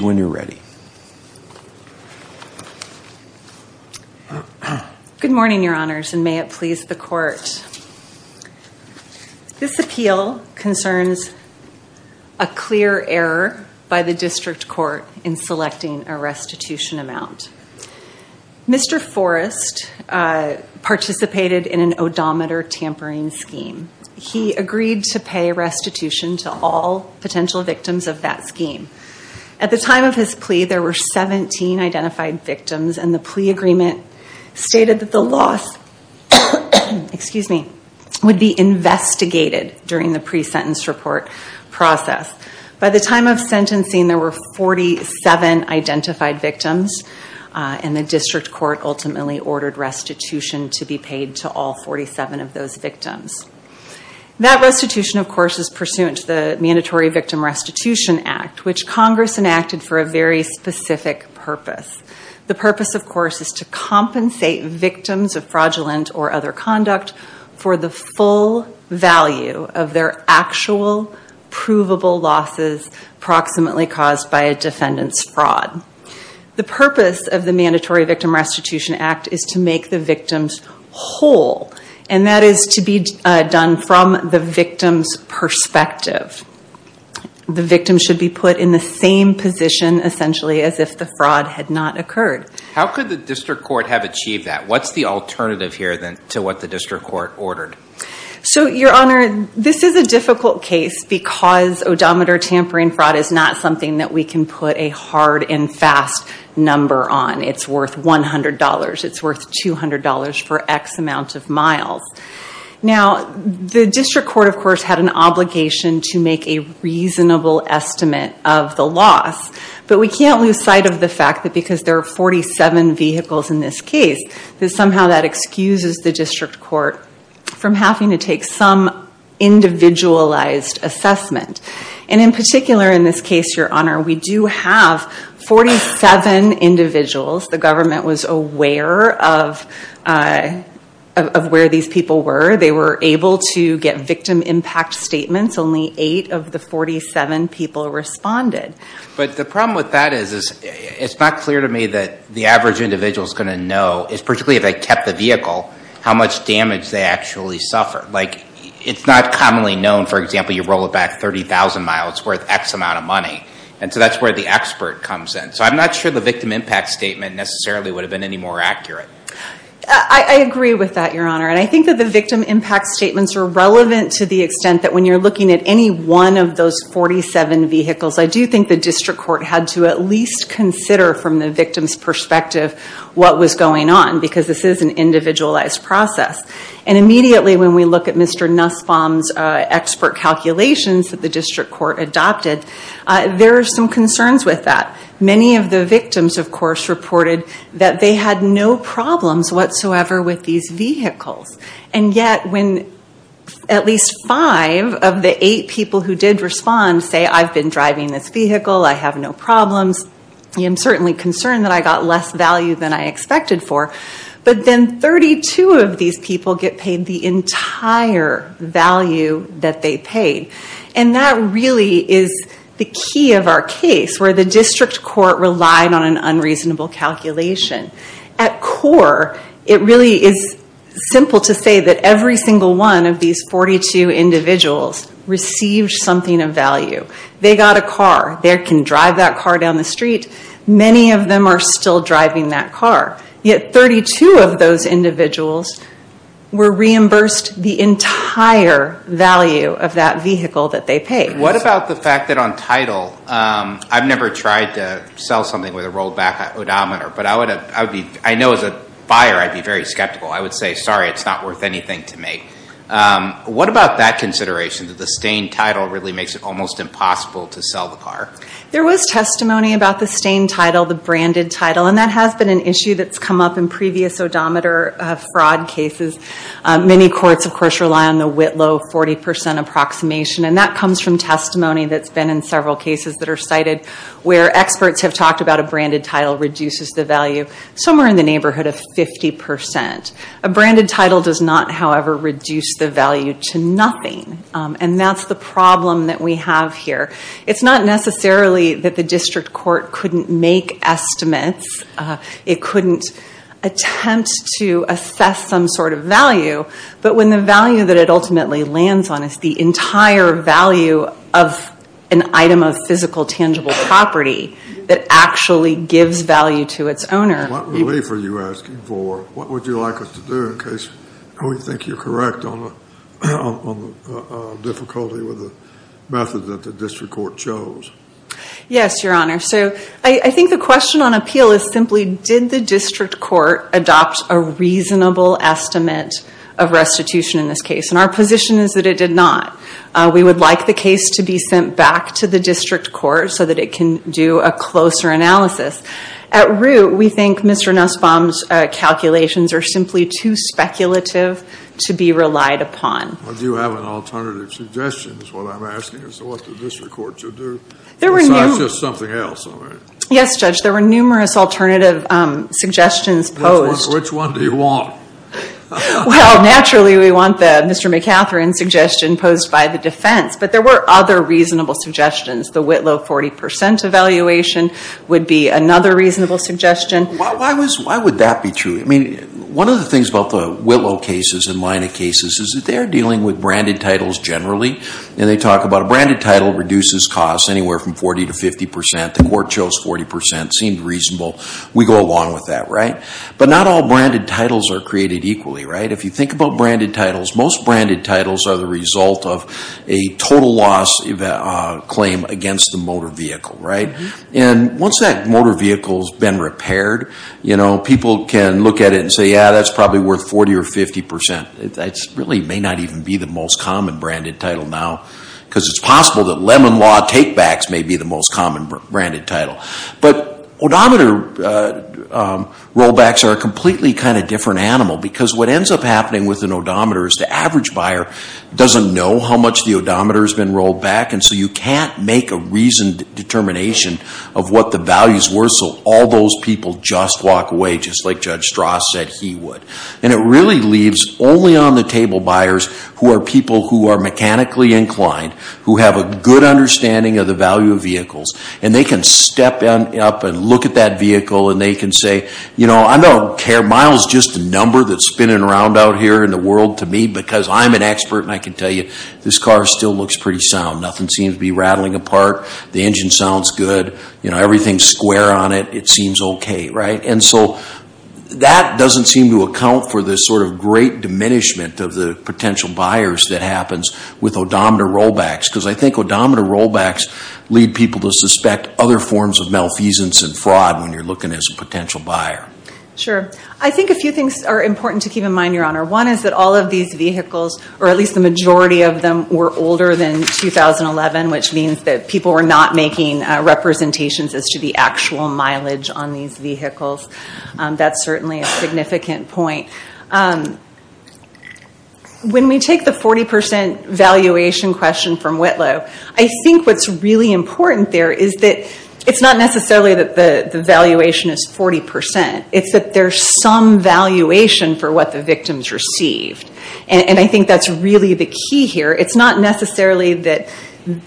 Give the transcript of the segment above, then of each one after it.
when you're ready. Good morning, your honors, and may it please the court. This appeal concerns a clear error by the district court in selecting a restitution amount. Mr. Forrest participated in an odometer tampering scheme. He agreed to pay restitution to all potential victims of that scheme. At the time of his plea, there were 17 identified victims, and the plea agreement stated that the loss would be investigated during the pre-sentence report process. By the time of sentencing, there were 47 identified victims, and the district court ultimately ordered restitution to be paid to all 47 of those victims. That restitution, of course, was pursuant to the Mandatory Victim Restitution Act, which Congress enacted for a very specific purpose. The purpose, of course, is to compensate victims of fraudulent or other conduct for the full value of their actual provable losses approximately caused by a defendant's fraud. The purpose of the Mandatory Victim Restitution Act is to make the victims whole, and that is to be done from the victim's perspective. The victim should be put in the same position, essentially, as if the fraud had not occurred. How could the district court have achieved that? What's the alternative here to what the district court ordered? Your honor, this is a difficult case because odometer tampering fraud is not something that we can put a hard and fast number on. It's worth $100. It's worth $200 for X amount of miles. The district court, of course, had an obligation to make a reasonable estimate of the loss, but we can't lose sight of the fact that because there are 47 vehicles in this case, that somehow that excuses the district court from having to take some individualized assessment. In particular, in this case, your honor, we do have 47 individuals. The government was aware of where these people were. They were able to get victim impact statements. Only eight of the 47 people responded. But the problem with that is it's not clear to me that the average individual is going to know, particularly if they kept the vehicle, how much damage they actually suffered. It's not commonly known, for example, you roll it back 30,000 miles, it's worth X amount of money. And so that's where the expert comes in. So I'm not sure the victim impact statement necessarily would have been any more accurate. I agree with that, your honor. And I think that the victim impact statements are relevant to the extent that when you're looking at any one of those 47 vehicles, I do think the district court had to at least consider from the victim's perspective what was going on because this is an individualized process. And immediately when we look at Mr. Nussbaum's expert calculations that the district court adopted, there are some concerns with that. Many of the victims, of course, reported that they had no problems whatsoever with these vehicles. And yet when at least five of the eight people who did respond say, I've been driving this vehicle, I have no problems, I am certainly concerned that I got less value than I expected for. But then 32 of these people get paid the entire value that they paid. And that really is the key of our case, where the district court relied on an unreasonable calculation. At core, it really is simple to say that every single one of these 42 individuals received something of value. They got a car. They can drive that car down the street. Many of them are still driving that car. Yet 32 of those individuals were reimbursed the entire value of that vehicle that they paid. What about the fact that on title, I've never tried to sell something with a rolled back odometer, but I know as a buyer I'd be very skeptical. I would say, sorry, it's not worth anything to me. What about that consideration, that the stained title really makes it almost impossible to sell the car? There was testimony about the stained title, the branded title. And that has been an issue that's come up in previous odometer fraud cases. Many courts, of course, rely on the Whitlow 40% approximation. And that comes from testimony that's been in several cases that are cited where experts have talked about a branded title reduces the value somewhere in the neighborhood of 50%. A branded title does not, however, reduce the value to nothing. And that's the problem that we have here. It's not necessarily that the district court couldn't make estimates. It couldn't attempt to assess some sort of value. But when the value that it ultimately lands on is the entire value of an item of physical, tangible property that actually gives value to its owner. What relief are you asking for? What would you like us to do in case we think you're correct on the difficulty with the method that the district court chose? Yes, your honor. So I think the question on appeal is simply, did the district court adopt a reasonable estimate of restitution in this case? And our position is that it did not. We would like the case to be sent back to the district court so that it can do a closer analysis. At root, we think Mr. Nussbaum's calculations are simply too speculative to be relied upon. Well, do you have an alternative suggestion is what I'm asking. So what did the district court choose to do? It's not just something else, am I right? Yes, Judge. There were numerous alternative suggestions posed. Which one do you want? Well, naturally we want the Mr. McCatherin suggestion posed by the defense. But there were other reasonable suggestions. The Whitlow 40% evaluation would be another reasonable suggestion. And why would that be true? I mean, one of the things about the Whitlow cases and Leina cases is that they're dealing with branded titles generally. And they talk about a branded title reduces costs anywhere from 40 to 50%. The court chose 40%. It seemed reasonable. We go along with that, right? But not all branded titles are created equally, right? If you think about branded titles, most branded titles are the result of a total loss claim against the motor vehicle, right? And once that motor vehicle's been repaired, you know, people can look at it and say, yeah, that's probably worth 40 or 50%. That really may not even be the most common branded title now because it's possible that Lemon Law takebacks may be the most common branded title. But odometer rollbacks are a completely kind of different animal because what ends up happening with an odometer is the average buyer doesn't know how much the odometer's been rolled back and so you can't make a reasoned determination of what the values were so all those people just walk away just like Judge Strauss said he would. And it really leaves only on the table buyers who are people who are mechanically inclined, who have a good understanding of the value of vehicles, and they can step up and look at that vehicle and they can say, you know, I don't care. Miles is just a number that's spinning around out here in the world to me because I'm an expert and I can tell you this car still looks pretty sound. Nothing seems to be rattling apart. The engine sounds good. You know, everything's square on it. It seems okay, right? And so that doesn't seem to account for the sort of great diminishment of the potential buyers that happens with odometer rollbacks because I think odometer rollbacks lead people to suspect other forms of malfeasance and fraud when you're looking as a potential buyer. Sure. I think a few things are important to keep in mind, Your Honor. One is that all of these vehicles, or at least the majority of them, were older than 2011, which means that people were not making representations as to the actual mileage on these vehicles. That's certainly a significant point. When we take the 40% valuation question from Whitlow, I think what's really important there is that it's not necessarily that the valuation is 40%. It's that there's some valuation for what the victims received. And I think that's really the key here. It's not necessarily that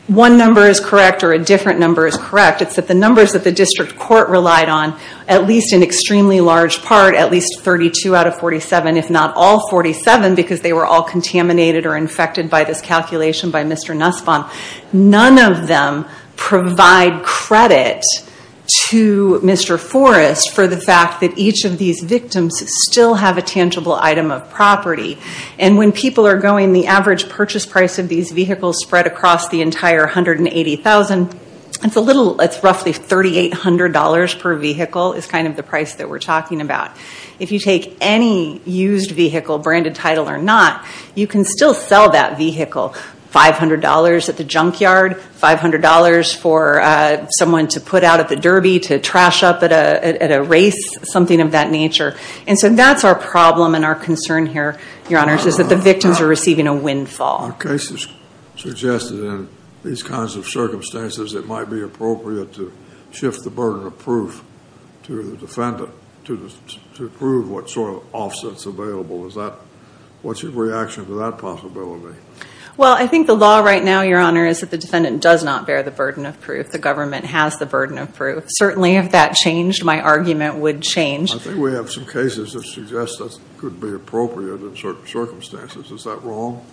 one number is correct or a different number is correct. It's that the numbers that the district court relied on, at least in extremely large part, at least 32 out of 47, if not all 47, because they were all contaminated or infected by this calculation by Mr. Nussbaum, none of them provide credit to Mr. Forrest for the fact that each of these victims still have a tangible item of property. And when people are going, the average purchase price of these vehicles spread across the entire 180,000. It's roughly $3,800 per vehicle is kind of the price that we're talking about. If you take any used vehicle, branded title or not, you can still sell that vehicle. $500 at the junkyard, $500 for someone to put out at the derby to trash up at a race, something of that nature. And so that's our problem and our concern here, Your Honor, is that the victims are receiving a windfall. Our case has suggested in these kinds of circumstances, it might be appropriate to shift the burden of proof to the defendant to prove what sort of offsets available. What's your reaction to that possibility? Well, I think the law right now, Your Honor, is that the defendant does not bear the burden of proof. The government has the burden of proof. Certainly, if that changed, my argument would change. I think we have some cases that suggest that could be appropriate in certain circumstances. Is that wrong?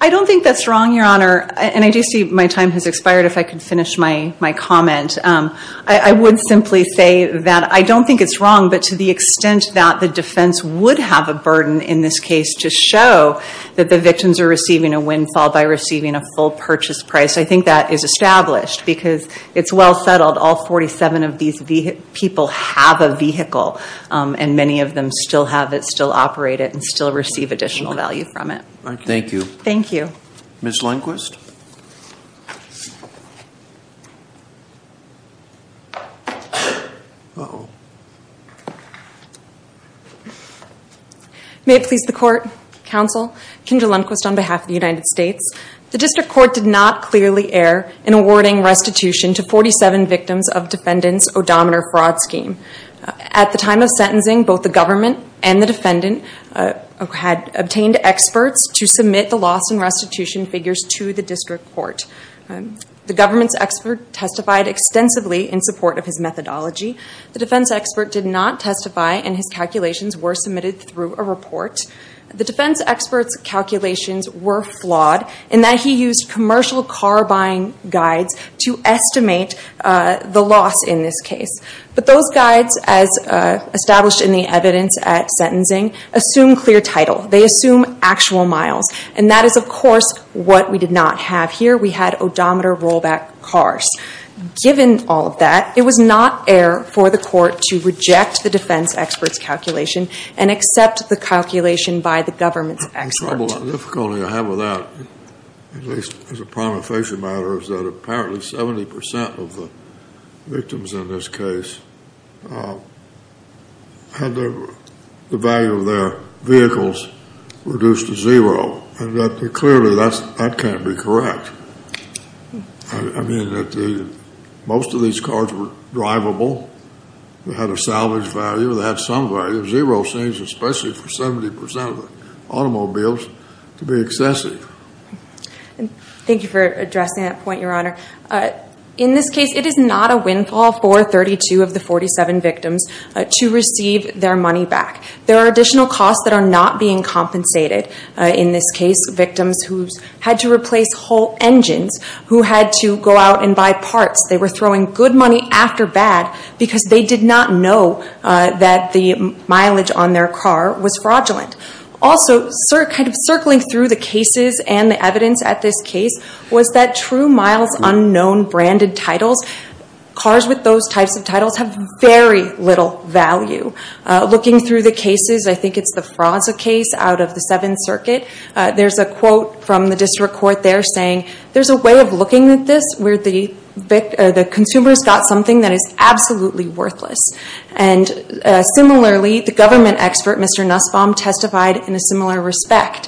I don't think that's wrong, Your Honor. And I do see my time has expired. If I could finish my comment. I would simply say that I don't think it's wrong, but to the extent that the defense would have a burden in this case to show that the victims are receiving a windfall by receiving a full purchase price, I think that is established because it's well settled. All 47 of these people have a vehicle, and many of them still have it, still operate it, and still receive additional value from it. Thank you. Thank you. Ms. Lundquist? Uh-oh. May it please the Court, Counsel, Kindra Lundquist on behalf of the United States. The District Court did not clearly err in awarding restitution to 47 victims of defendant's odometer fraud scheme. At the time of sentencing, both the government and the defendant had obtained experts to submit the loss and restitution figures to the District Court. The government's expert testified extensively in support of his methodology. The defense expert did not testify, and his calculations were submitted through a report. The defense expert's calculations were flawed in that he used commercial car buying guides to estimate the loss in this case. But those guides, as established in the evidence at sentencing, assume clear title. They assume actual miles, and that is, of course, what we did not have here. We had odometer rollback cars. Given all of that, it was not air for the Court to reject the defense expert's calculation and accept the calculation by the government's expert. The trouble and difficulty I have with that, at least as a prima facie matter, is that apparently 70 percent of the victims in this case had the value of their vehicles reduced to zero, and that clearly, that can't be correct. I mean, most of these cars were drivable. They had a salvage value. They had some value. Zero seems, especially for 70 percent of the automobiles, to be excessive. Thank you for addressing that point, Your Honor. In this case, it is not a windfall for 32 of the 47 victims to receive their money back. There are additional costs that are not being compensated. In this case, victims who had to replace whole engines, who had to go out and buy parts. They were throwing good money after bad because they did not know that the mileage on their car was fraudulent. Also, circling through the cases and the evidence at this case, was that true miles, unknown branded titles, cars with those types of titles have very little value. Looking through the cases, I think it is the Fraza case out of the Seventh Circuit. There is a quote from the District Court there saying, there is a way of looking at this where the consumer has got something that is absolutely worthless. Similarly, the government expert, Mr. Nussbaum, testified in a similar respect.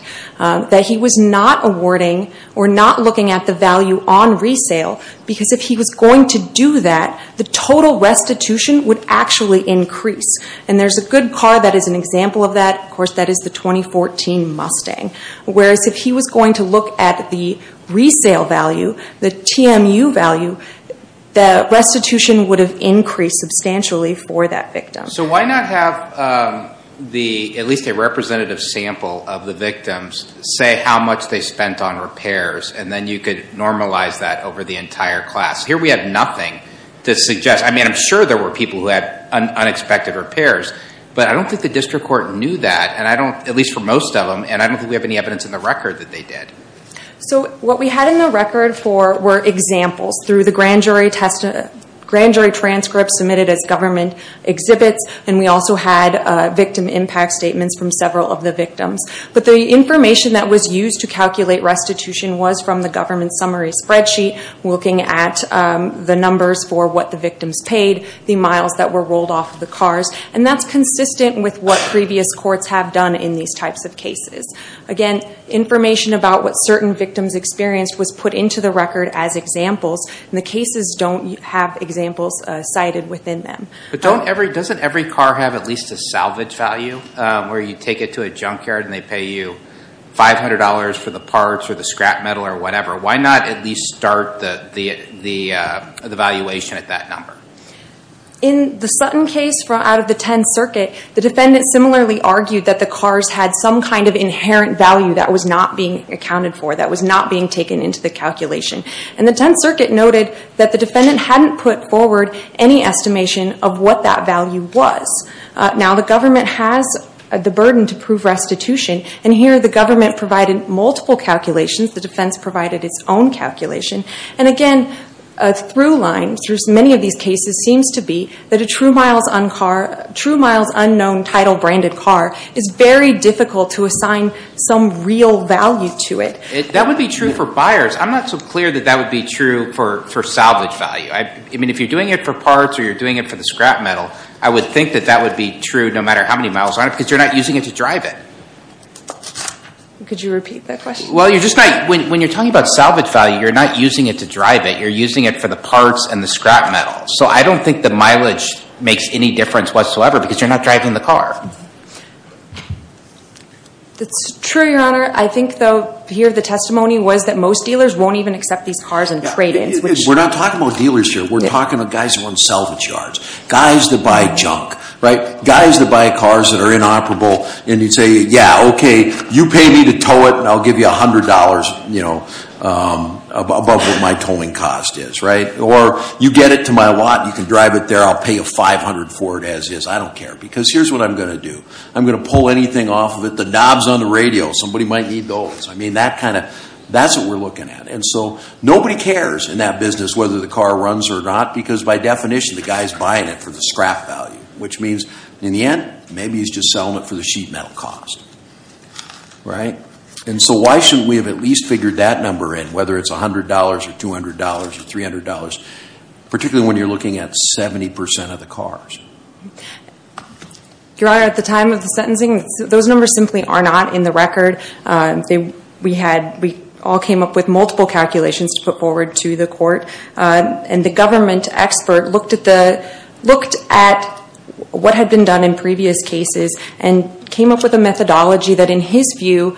He was not awarding or not looking at the value on resale because if he was going to do that, the total restitution would actually increase. There is a good car that is an example of that. Of course, that is the 2014 Mustang. Whereas if he was going to look at the resale value, the TMU value, the restitution would have increased substantially for that victim. So why not have at least a representative sample of the victims say how much they spent on repairs and then you could normalize that over the entire class. Here we have nothing to suggest. I am sure there were people who had unexpected repairs, but I don't think the District Court knew that, at least for most of them, and I don't think we have any evidence in the record that they did. So what we had in the record were examples through the grand jury transcripts submitted as government exhibits and we also had victim impact statements from several of the victims. But the information that was used to calculate restitution was from the government summary spreadsheet looking at the numbers for what the victims paid, the miles that were rolled off of the cars, and that is consistent with what previous courts have done in these types of cases. Again, information about what certain victims experienced was put into the record as examples and the cases don't have examples cited within them. But doesn't every car have at least a salvage value where you take it to a junkyard and they pay you $500 for the parts or the scrap metal or whatever? Why not at least start the valuation at that number? In the Sutton case from out of the Tenth Circuit, the defendant similarly argued that the cars had some kind of inherent value that was not being accounted for, that was not being taken into the calculation. And the Tenth Circuit noted that the defendant hadn't put forward any estimation of what that value was. Now the government has the burden to prove restitution and here the government provided multiple calculations, the defense provided its own calculation. And again, a through line through many of these cases seems to be that a true miles unknown title branded car is very difficult to assign some real value to it. That would be true for buyers. I'm not so clear that that would be true for salvage value. I mean, if you're doing it for parts or you're doing it for the scrap metal, I would think that that would be true no matter how many miles on it because you're not using it to drive it. Could you repeat that question? Well, you're just not, when you're talking about salvage value, you're not using it to drive it. You're using it for the parts and the scrap metal. So I don't think the mileage makes any difference whatsoever because you're not driving the car. That's true, Your Honor. I think though, here the testimony was that most dealers won't even accept these cars and trade it. We're not talking about dealers here. We're talking about guys who own salvage yards. Guys that buy junk, right? Guys that buy cars that are inoperable and you'd say, yeah, okay, you pay me to tow it and I'll give you $100, you know, above what my towing cost is, right? Or you get it to my lot and you can drive it there. I'll pay you $500 for it as is. I don't care because here's what I'm going to do. I'm going to pull anything off of it. The knobs on the radio, somebody might need those. I mean, that kind of, that's what we're looking at. And so nobody cares in that business whether the car runs or not because by definition the guy's buying it for the scrap value, which means in the end, maybe he's just selling it for the sheet metal cost, right? And so why shouldn't we have at least figured that number in, whether it's $100 or $200 or $300, particularly when you're looking at 70% of the cars? Your Honor, at the time of the sentencing, those numbers simply are not in the record. We had, we all came up with multiple calculations to put forward to the court and the government expert looked at what had been done in previous cases and came up with a methodology that in his view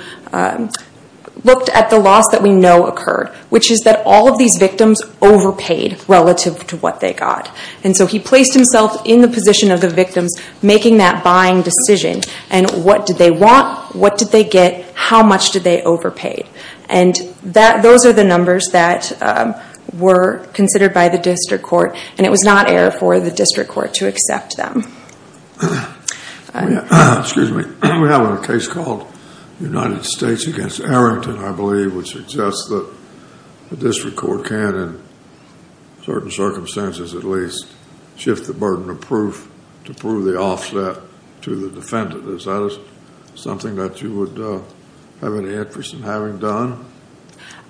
looked at the loss that we know occurred, which is that all of these victims overpaid relative to what they got. And so he placed himself in the position of the victims making that buying decision. And what did they want? What did they get? How much did they overpay? And those are the numbers that were considered by the district court and it was not air for the district court to accept them. Excuse me. We have a case called United States against Arrington, I believe, which suggests that the district court can, in certain circumstances at least, shift the burden of proof to prove the offset to the defendant. Is that something that you would have any interest in having done?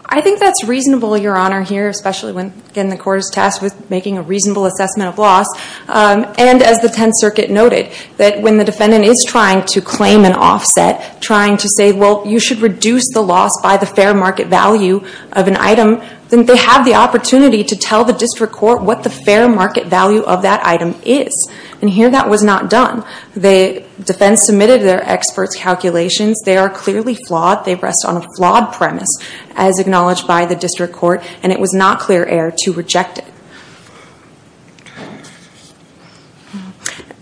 I think that's reasonable, Your Honor, here, especially when, again, the court is tasked with making a reasonable assessment of loss. And as the Tenth Circuit noted, that when the defendant is trying to claim an offset, trying to say, well, you should reduce the loss by the fair market value of an item, then they have the opportunity to tell the district court what the fair market value of that item is. And here that was not done. The defense submitted their experts' calculations. They are clearly flawed. They rest on a flawed premise, as acknowledged by the district court, and it was not clear air to reject it.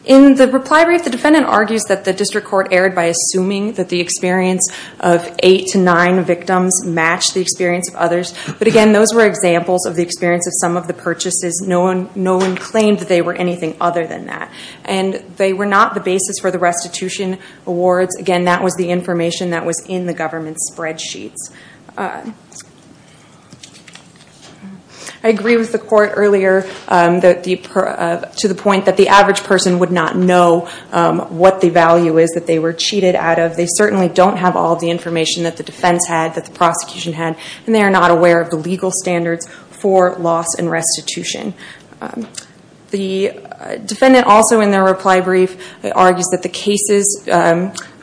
In the reply brief, the defendant argues that the district court erred by assuming that the experience of eight to nine victims matched the experience of others. But again, those were examples of the experience of some of the purchases. No one claimed that they were anything other than that. And they were not the basis for the restitution awards. Again, that was the information that was in the government's spreadsheets. I agree with the court earlier to the point that the average person would not know what the value is that they were cheated out of. They certainly don't have all the information that the defense had, that the prosecution had, and they are not aware of the legal standards for loss and restitution. The defendant also, in their reply brief, argues that the cases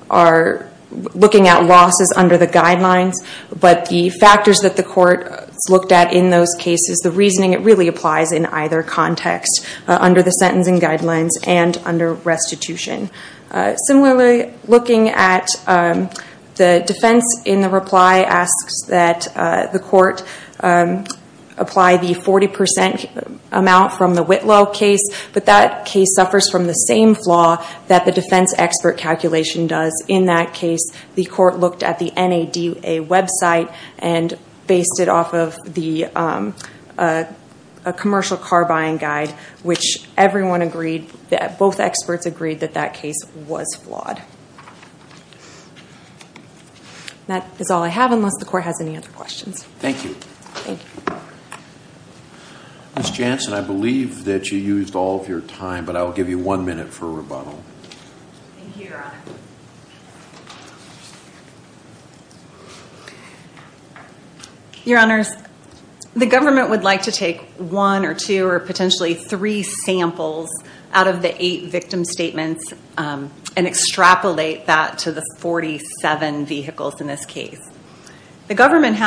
are looking at losses under the guidelines, but the factors that the court has looked at in those cases, the reasoning, it really applies in either context, under the sentencing guidelines and under restitution. Similarly, looking at the defense in the reply, asks that the court apply the 40% amount from the Whitlow case, but that case suffers from the same flaw that the defense expert calculation does. In that case, the court looked at the NADA website and based it off of a commercial car buying guide, which everyone agreed, both experts agreed, that that case was flawed. That is all I have, unless the court has any other questions. Thank you. Thank you. Ms. Jansen, I believe that you used all of your time, but I will give you one minute for a rebuttal. Thank you, Your Honor. Your Honors, the government would like to take one or two or potentially three samples out of the eight victim statements and extrapolate that to the 47 vehicles in this case. The question is,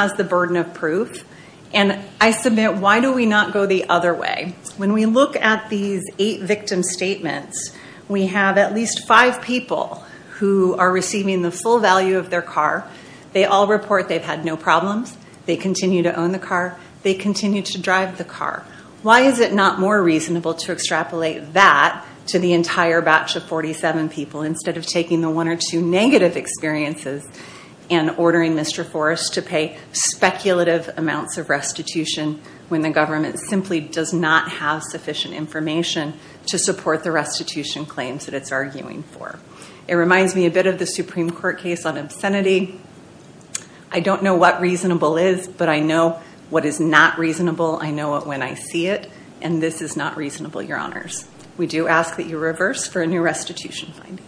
why do we not go the other way? When we look at these eight victim statements, we have at least five people who are receiving the full value of their car. They all report they have had no problems. They continue to own the car. They continue to drive the car. Why is it not more reasonable to extrapolate that to the entire batch of 47 people, instead of taking the one or two negative experiences and ordering Mr. Forrest to pay speculative amounts of restitution when the government simply does not have sufficient information to support the restitution claims that it's arguing for? It reminds me a bit of the Supreme Court case on obscenity. I don't know what reasonable is, but I know what is not reasonable. I know it when I see it, and this is not reasonable, Your Honors. We do ask that you reverse for a new restitution finding.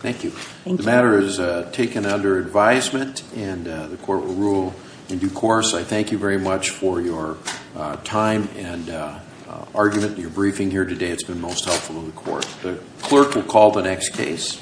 Thank you. The matter is taken under advisement, and the court will rule in due course. I thank you very much for your time and argument in your briefing here today. It's been most helpful to the court. The clerk will call the next case.